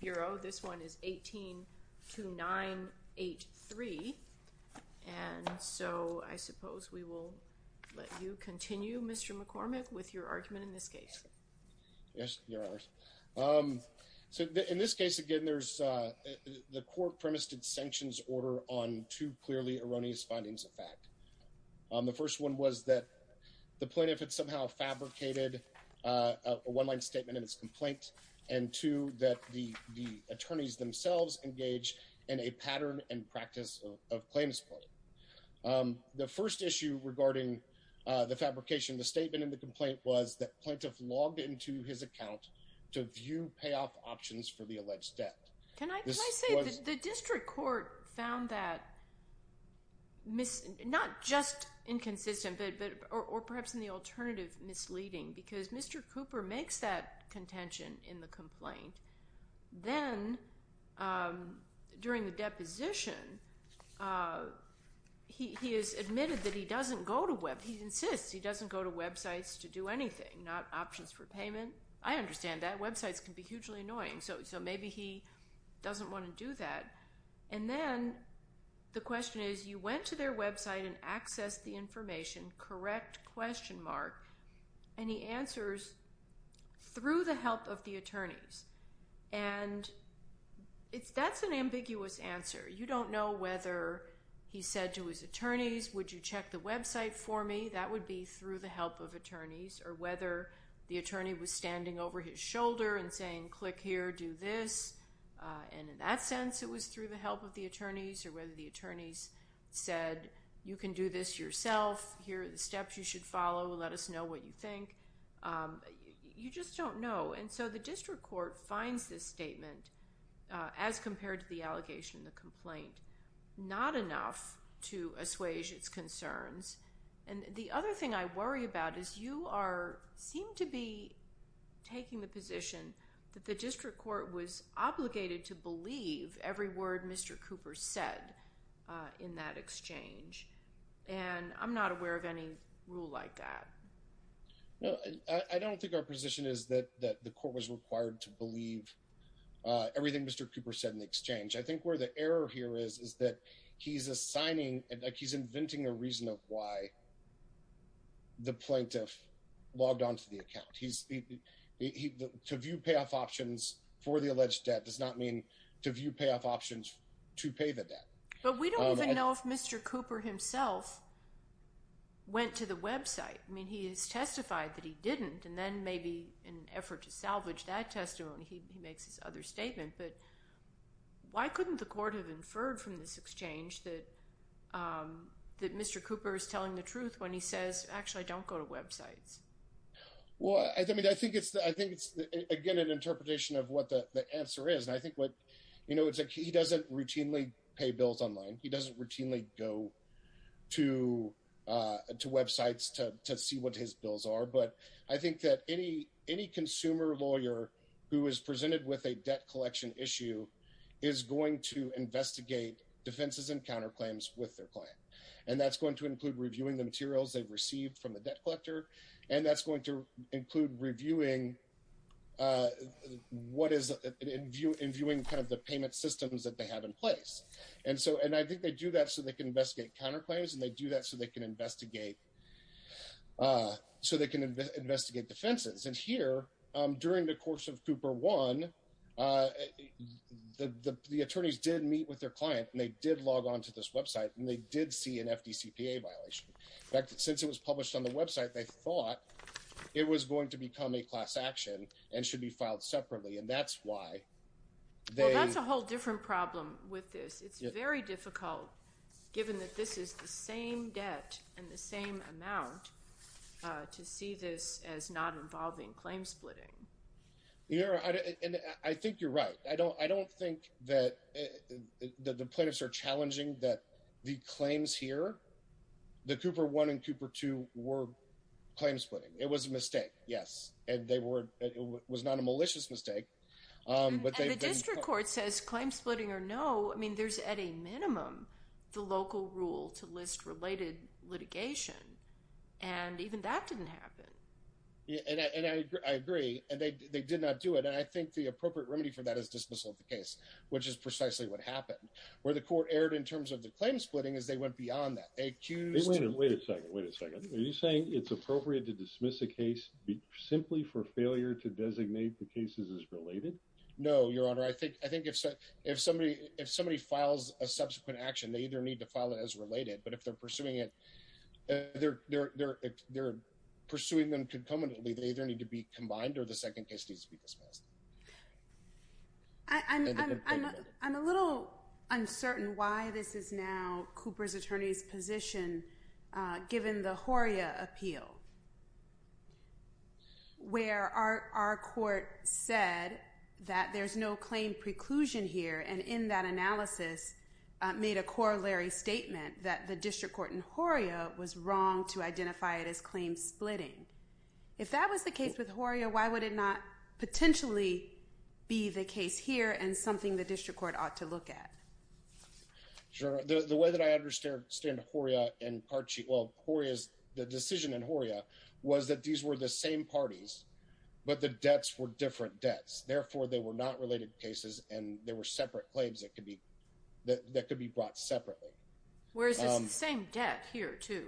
Bureau. This one is 18-2983. And so I suppose we will let you continue, Mr. McCormick, with your argument in this case. Yes, Your Honors. So in this case, again, there's the court premised its sanctions order on two clearly erroneous findings of fact. The first one was that the plaintiff had somehow fabricated a one-line statement in its complaint, and two, that the attorneys themselves engage in a pattern and practice of claim support. The first issue regarding the fabrication of the statement in the complaint was that plaintiff logged into his account to view payoff options for the alleged debt. Can I say that the district court found that not just inconsistent, or perhaps in the alternative misleading, because Mr. Cooper makes that contention in the complaint. Then, during the deposition, he has admitted that he doesn't go to websites. He insists he doesn't go to websites to do anything, not options for payment. I understand that. Websites can be hugely annoying. So maybe he doesn't want to do that. And then the question is, you went to their And he answers, through the help of the attorneys. And that's an ambiguous answer. You don't know whether he said to his attorneys, would you check the website for me? That would be through the help of attorneys. Or whether the attorney was standing over his shoulder and saying, click here, do this. And in that sense, it was through the help of the attorneys. Or whether the attorneys said, you can do this yourself. Here are the steps you should follow. Let us know what you think. You just don't know. And so the district court finds this statement, as compared to the allegation, the complaint, not enough to assuage its concerns. And the other thing I worry about is you seem to be taking the position that the district court was obligated to believe every word Mr. Cooper said in that exchange. And I'm not aware of any rule like that. No, I don't think our position is that the court was required to believe everything Mr. Cooper said in the exchange. I think where the error here is, is that he's assigning and he's inventing a reason of why the plaintiff logged onto the account. To view payoff options for the alleged debt does not mean to view payoff options to pay the debt. But we don't even know if Mr. Cooper himself went to the website. I mean, he has testified that he didn't. And then maybe in an effort to salvage that testimony, he makes his other statement. But why couldn't the court have inferred from this exchange that that Mr. Cooper is telling the truth when he says, actually, I don't go to websites? Well, I mean, I think it's, I think it's, again, an interpretation of what the answer is. And I think what, you know, it's like he doesn't routinely pay bills online. He doesn't routinely go to websites to see what his bills are. But I think that any consumer lawyer who is presented with a debt collection issue is going to investigate defenses and counterclaims with their client. And that's going to include reviewing the materials they've received from the debt collector. And that's going to include reviewing what is in view in viewing kind of the payment systems that they have in place. And so and I think they do that so they can investigate counterclaims and they do that so they can investigate so they can investigate defenses. And here during the course of Cooper one, the attorneys did meet with their client and they did log on to this website and they did see an FDCPA violation. In fact, since it was published on the website, they thought it was going to become a class action and should be filed separately. And that's why. Well, that's a whole different problem with this. It's very difficult given that this is the same debt and the same amount to see this as not involving claim splitting. You know, and I think you're right. I don't I don't think that the plaintiffs are claim splitting. It was a mistake. Yes. And they were. It was not a malicious mistake. But the district court says claim splitting or no. I mean, there's at a minimum the local rule to list related litigation. And even that didn't happen. Yeah. And I agree. And they did not do it. And I think the appropriate remedy for that is dismissal of the case, which is precisely what happened where the court erred in terms of the claim splitting as they went beyond that. Wait a second. Wait a second. Are you saying it's appropriate to dismiss a case simply for failure to designate the cases as related? No, Your Honor. I think I think if if somebody if somebody files a subsequent action, they either need to file it as related. But if they're pursuing it, they're they're they're pursuing them concomitantly. They either need to be combined or the second case needs to be dismissed. I mean, I'm I'm a little uncertain why this is now Cooper's attorney's position, given the Horia appeal. Where are our court said that there's no claim preclusion here, and in that analysis made a corollary statement that the district court in Horia was wrong to identify it as the case here and something the district court ought to look at. Sure. The way that I understand Horia and well, Horia's the decision in Horia was that these were the same parties, but the debts were different debts. Therefore, they were not related cases and there were separate claims that could be that that could be brought separately. Whereas it's the same debt here, too.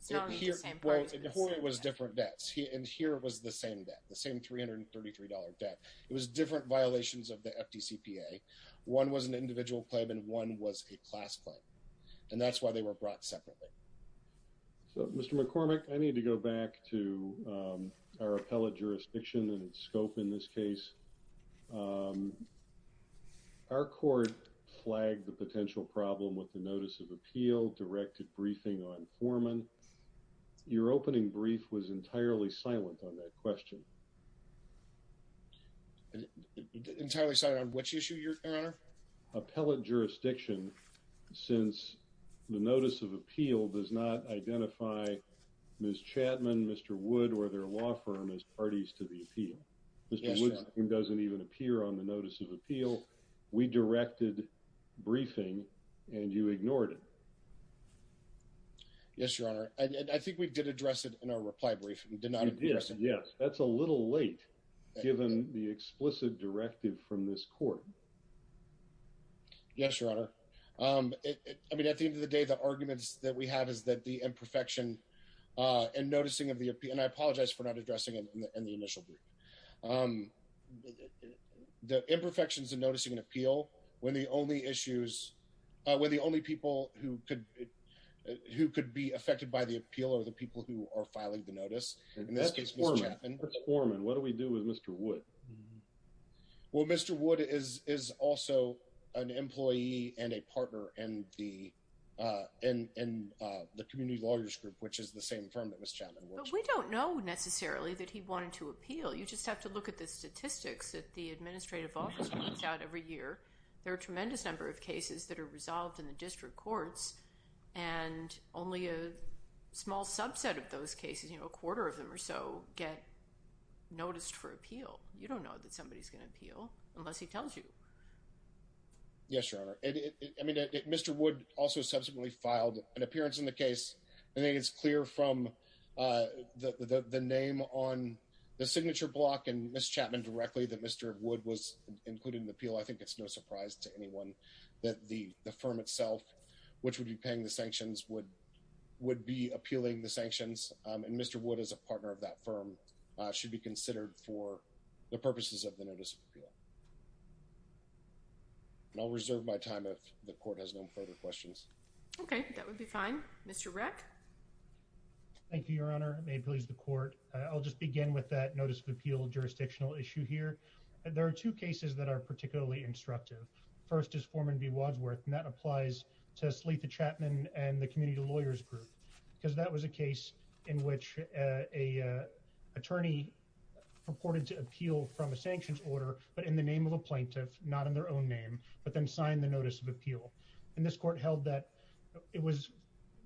So it was different debts. And here was the same debt, the same three hundred and thirty three dollar debt. It was different violations of the FDCPA. One was an individual claim and one was a class claim. And that's why they were brought separately. So, Mr. McCormick, I need to go back to our appellate jurisdiction and scope in this case. Our court flagged the potential problem with the notice of appeal, directed briefing on Foreman. Your opening brief was entirely silent on that question. Entirely silent on which issue, your honor? Appellate jurisdiction, since the notice of appeal does not identify Ms. Chapman, Mr. Wood or their law firm as parties to the appeal. Mr. Wood doesn't even appear on the notice of appeal. We directed briefing and you ignored it. Yes, your honor, I think we did address it in our reply brief and did not. Yes, that's a little late, given the explicit directive from this court. Yes, your honor, I mean, at the end of the day, the arguments that we have is that the imperfection and noticing of the appeal and I apologize for not addressing it in the initial. The imperfections and noticing an appeal when the only issues were the only people who could who could be affected by the appeal or the people who are filing the case. Mr. Foreman, what do we do with Mr. Wood? Well, Mr. Wood is is also an employee and a partner in the in the community lawyers group, which is the same firm that Ms. Chapman works for. We don't know necessarily that he wanted to appeal. You just have to look at the statistics that the administrative office runs out every year. There are a tremendous number of cases that are resolved in the district courts and only a small subset of those cases, a quarter of them or so get noticed for appeal. You don't know that somebody is going to appeal unless he tells you. Yes, your honor, I mean, Mr. Wood also subsequently filed an appearance in the case. I think it's clear from the name on the signature block and Ms. Chapman directly that Mr. Wood was included in the appeal. I think it's no surprise to anyone that the the firm itself, which would be paying the sanctions, would would be appealing the sanctions. And Mr. Wood is a partner of that firm should be considered for the purposes of the notice of appeal. And I'll reserve my time if the court has no further questions. OK, that would be fine. Mr. Rack. Thank you, your honor. May it please the court. I'll just begin with that notice of appeal jurisdictional issue here. There are two cases that are particularly instructive. First is Foreman V. Wadsworth, and that applies to Sletha Chapman and the community lawyers group, because that was a case in which a attorney purported to appeal from a sanctions order, but in the name of a plaintiff, not in their own name, but then signed the notice of appeal. And this court held that it was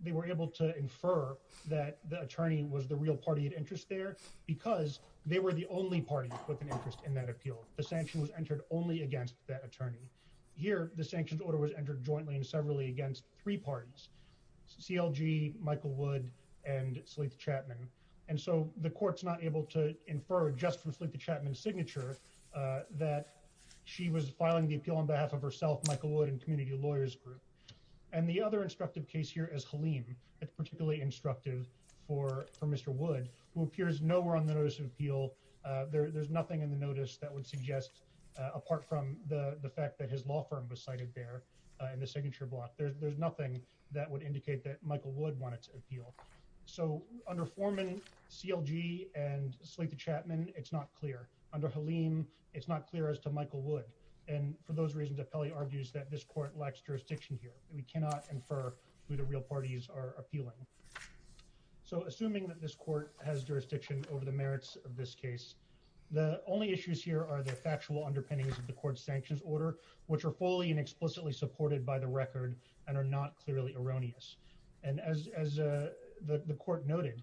they were able to infer that the attorney was the real party of interest there because they were the only party with an interest in that appeal. The sanction was entered only against that attorney. Here, the sanctions order was entered jointly and severally against three parties, CLG, Michael Wood and Sletha Chapman. And so the court's not able to infer just from Sletha Chapman's signature that she was filing the appeal on behalf of herself, Michael Wood and community lawyers group. And the other instructive case here is Haleem. It's particularly instructive for Mr. Wood, who appears nowhere on the notice of appeal. There's nothing in the notice that would suggest, apart from the fact that his law firm was cited there in the signature block, there's nothing that would indicate that Michael Wood wanted to appeal. So under Foreman, CLG and Sletha Chapman, it's not clear. Under Haleem, it's not clear as to Michael Wood. And for those reasons, Appelli argues that this court lacks jurisdiction here. We cannot infer who the real parties are appealing. So assuming that this court has jurisdiction over the merits of this case, the only issues here are the factual underpinnings of the court's sanctions order, which are fully and explicitly supported by the record and are not clearly erroneous. And as the court noted,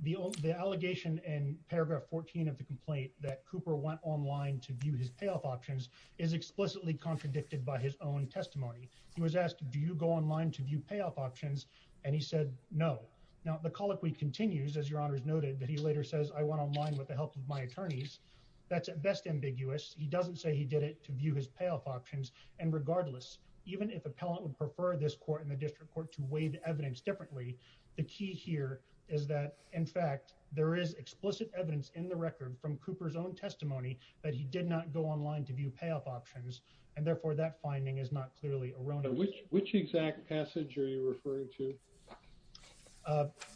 the allegation in paragraph 14 of the complaint that Cooper went online to view his payoff options is explicitly contradicted by his own testimony. He was asked, do you go online to view payoff options? And he said, no. Now, the colloquy continues, as your honors noted, that he later says, I went online with the help of my attorneys. That's at best ambiguous. He doesn't say he did it to view his payoff options. And regardless, even if appellant would prefer this court in the district court to weigh the evidence differently, the key here is that, in fact, there is explicit evidence in the record from Cooper's own testimony that he did not go online to view payoff options. And therefore, that finding is not clearly erroneous. And which exact passage are you referring to?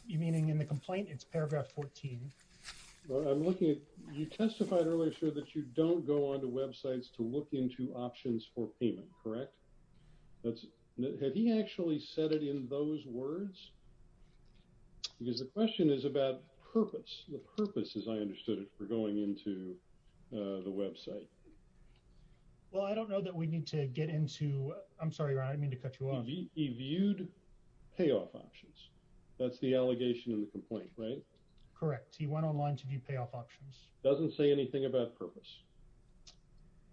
You're meaning in the complaint? It's paragraph 14. Well, I'm looking at, you testified earlier, sir, that you don't go onto websites to look into options for payment, correct? Had he actually said it in those words? Because the question is about purpose. The purpose, as I understood it, for going into the website. Well, I don't know that we need to get into, I'm sorry, Ron, I didn't mean to cut you off. He viewed payoff options. That's the allegation in the complaint, right? Correct. He went online to view payoff options. Doesn't say anything about purpose.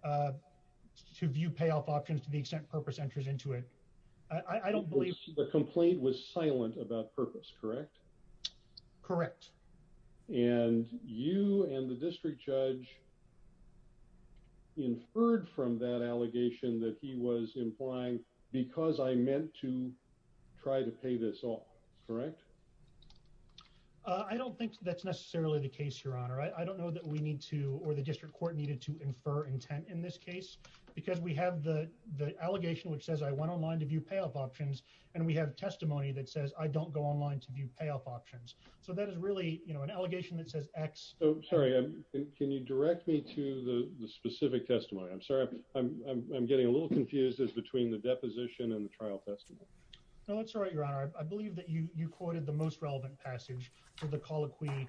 To view payoff options to the extent purpose enters into it. I don't believe. The complaint was silent about purpose, correct? Correct. And you and the district judge inferred from that allegation that he was implying because I meant to try to pay this off, correct? I don't think that's necessarily the case, Your Honor. I don't know that we need to, or the district court needed to infer intent in this case. Because we have the allegation which says I went online to view payoff options. And we have testimony that says I don't go online to view payoff options. So that is really, you know, an allegation that says X. Oh, sorry. Can you direct me to the specific testimony? I'm sorry. I'm getting a little confused as between the deposition and the trial testimony. No, it's all right, Your Honor. I believe that you quoted the most relevant passage for the colloquy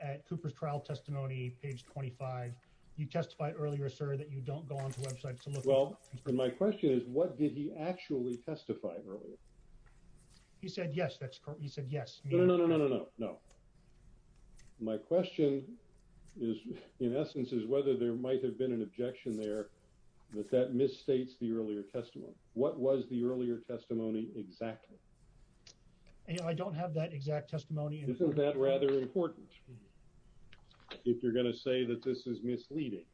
at Cooper's trial testimony, page 25. You testified earlier, sir, that you don't go onto websites to look. Well, my question is, what did he actually testify earlier? He said, yes, that's correct. He said, yes. No, no, no, no, no, no. My question is, in essence, is whether there might have been an objection there that that misstates the earlier testimony. What was the earlier testimony exactly? I don't have that exact testimony. Isn't that rather important if you're going to say that this is misleading?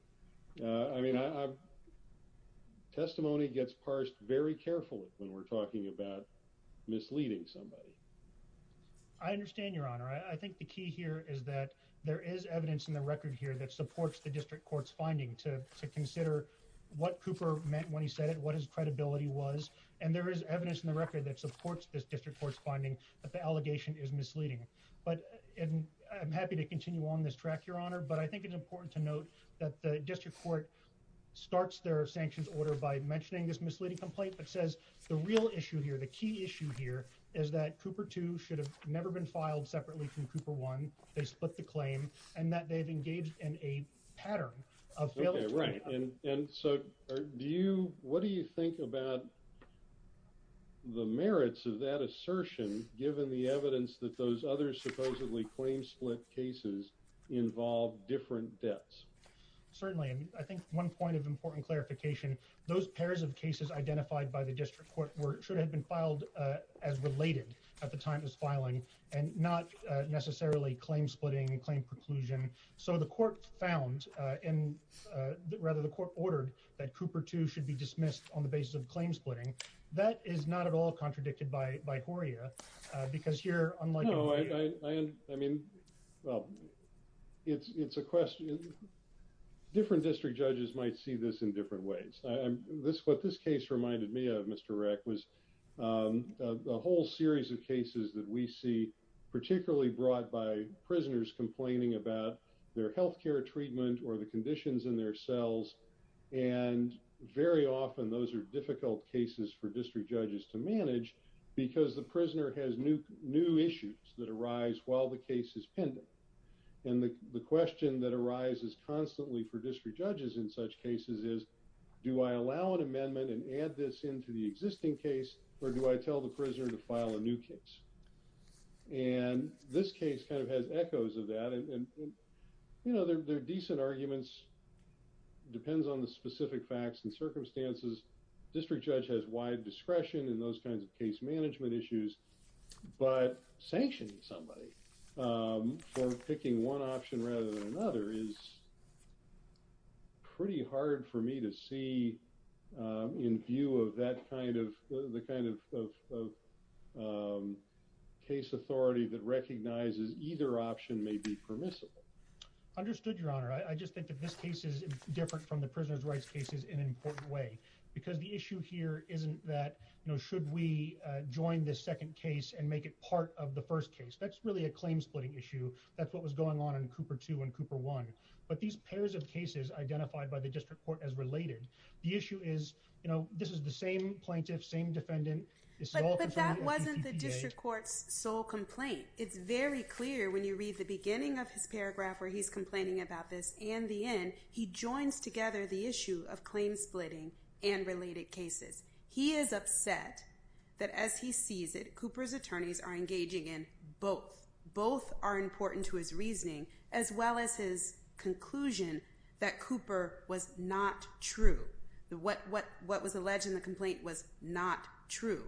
I mean, testimony gets parsed very carefully when we're talking about misleading somebody. I understand, Your Honor. I think the key here is that there is evidence in the record here that supports the district court's finding to consider what Cooper meant when he said it, what his credibility was, and there is evidence in the record that supports this district court's finding that the allegation is misleading. But I'm happy to continue on this track, Your Honor, but I think it's important to note that the district court starts their sanctions order by mentioning this misleading complaint that says the real issue here, the key issue here, is that Cooper 2 should have never been filed separately from Cooper 1. They split the claim and that they've engaged in a pattern of failure. Okay, right. And so do you, what do you think about the merits of that assertion, given the evidence that those other supposedly claim-split cases involve different debts? Certainly. I think one point of important clarification, those pairs of cases identified by the district court should have been filed as related at the time of this filing and not necessarily claim-splitting, claim-preclusion. So the court found, rather the court ordered, that Cooper 2 should be dismissed on the basis of claim-splitting. That is not at all contradicted by Horia, because here, unlike— No, I mean, well, it's a question. Different district judges might see this in different ways. What this case reminded me of, Mr. Reck, was a whole series of cases that we see particularly brought by prisoners complaining about their health care treatment or the conditions in their cells. And very often, those are difficult cases for district judges to manage because the prisoner has new issues that arise while the case is pending. And the question that arises constantly for district judges in such cases is, do I allow an amendment and add this into the existing case, or do I tell the prisoner to file a new case? And this case kind of has echoes of that, and, you know, they're decent arguments. It depends on the specific facts and circumstances. District judge has wide discretion in those kinds of case management issues, but sanctioning somebody for picking one option rather than another is pretty hard for me to see in view of that kind of—the kind of case authority that recognizes either option may be permissible. Understood, Your Honor. I just think that this case is different from the prisoners' rights cases in an important way, because the issue here isn't that, you know, should we join this second case and make it part of the first case? That's really a claim-splitting issue. That's what was going on in Cooper 2 and Cooper 1. But these pairs of cases identified by the district court as related, the issue is, you know, this is the same plaintiff, same defendant— But that wasn't the district court's sole complaint. It's very clear when you read the beginning of his paragraph where he's complaining about this, and the end, he joins together the issue of claim-splitting and related cases. He is upset that as he sees it, Cooper's attorneys are engaging in both. Both are important to his reasoning, as well as his conclusion that Cooper was not true. What was alleged in the complaint was not true.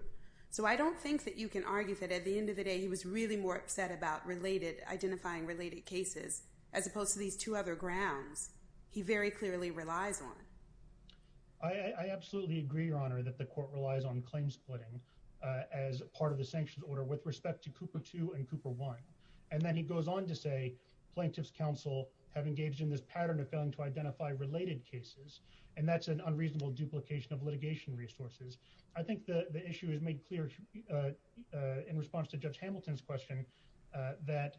So I don't think that you can argue that at the end of the day, he was really more upset about related—identifying related cases as opposed to these two other grounds he very clearly relies on. I absolutely agree, Your Honor, that the court relies on claim-splitting as part of the sanctions order with respect to Cooper 2 and Cooper 1. And then he goes on to say plaintiff's counsel have engaged in this pattern of failing to identify related cases, and that's an unreasonable duplication of litigation resources. I think the issue is made clear in response to Judge Hamilton's question that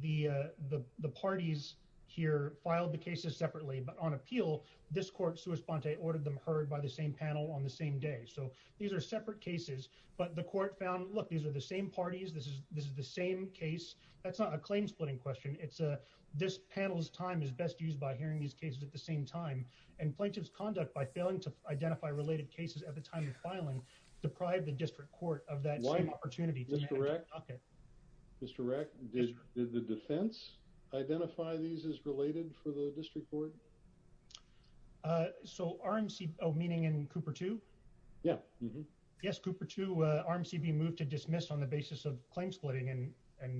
the parties here filed the cases separately. But on appeal, this court, sua sponte, ordered them heard by the same panel on the same day. So these are separate cases. But the court found, look, these are the same parties. This is the same case. That's not a claim-splitting question. It's a—this panel's time is best used by hearing these cases at the same time. And plaintiff's conduct by failing to identify related cases at the time of filing deprived the district court of that same opportunity. Okay. Mr. Reck, did the defense identify these as related for the district court? So RMC—oh, meaning in Cooper 2? Yeah. Yes, Cooper 2, RMC being moved to dismiss on the basis of claim-splitting and—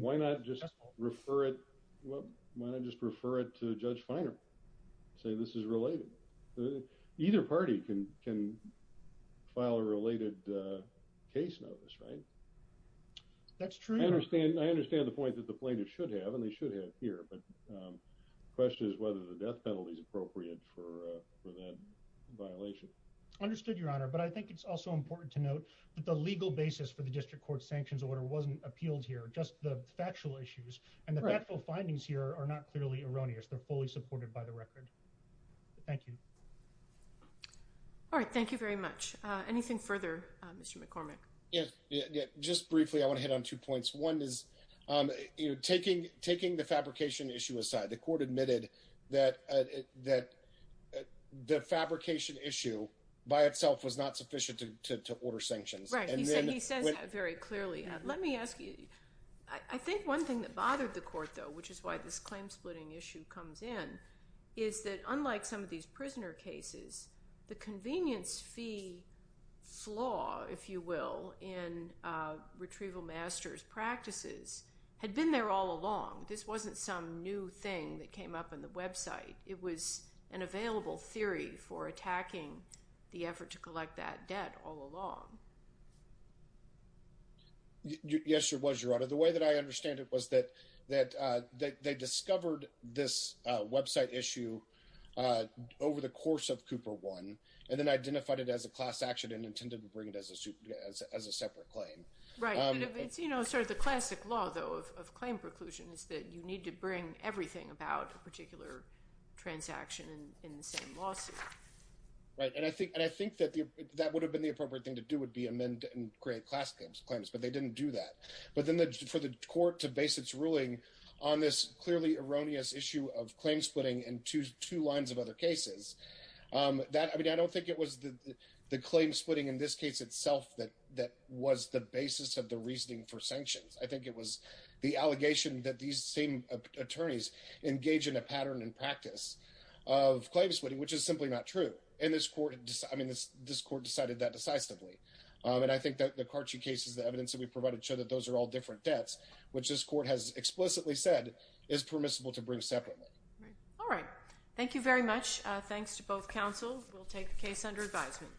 Why not just refer it—why not just refer it to Judge Feiner, say this is related? Either party can file a related case notice, right? That's true. I understand—I understand the point that the plaintiff should have, and they should have here. But the question is whether the death penalty is appropriate for that violation. Understood, Your Honor. But I think it's also important to note that the legal basis for the district court's sanctions order wasn't appealed here, just the factual issues. And the factual findings here are not clearly erroneous. They're fully supported by the record. Thank you. All right. Thank you very much. Anything further, Mr. McCormick? Yeah, just briefly, I want to hit on two points. One is, you know, taking the fabrication issue aside, the court admitted that the fabrication issue by itself was not sufficient to order sanctions. Right, he says that very clearly. Let me ask you—I think one thing that bothered the court, though, which is why this claim-splitting issue comes in, is that unlike some of these prisoner cases, the convenience fee flaw, if you will, in retrieval master's practices had been there all along. This wasn't some new thing that came up on the website. It was an available theory for attacking the effort to collect that debt all along. Yes, it was, Your Honor. The way that I understand it was that they discovered this website issue over the course of Cooper 1 and then identified it as a class action and intended to bring it as a separate claim. Right, but it's, you know, sort of the classic law, though, of claim preclusion is that you need to bring everything about a particular transaction in the same lawsuit. Right, and I think that would have been the appropriate thing to do, would be amend and create class claims, but they didn't do that. But then for the court to base its ruling on this clearly erroneous issue of claim-splitting in two lines of other cases, that, I mean, I don't think it was the claim-splitting in this case itself that was the basis of the reasoning for sanctions. I think it was the allegation that these same attorneys engage in a pattern and practice of claim-splitting, which is simply not true. And this court, I mean, this court decided that decisively. And I think that the Carci cases, the evidence that we provided show that those are all different debts, which this court has explicitly said is permissible to bring separately. All right. Thank you very much. Thanks to both counsel. We'll take the case under advisement.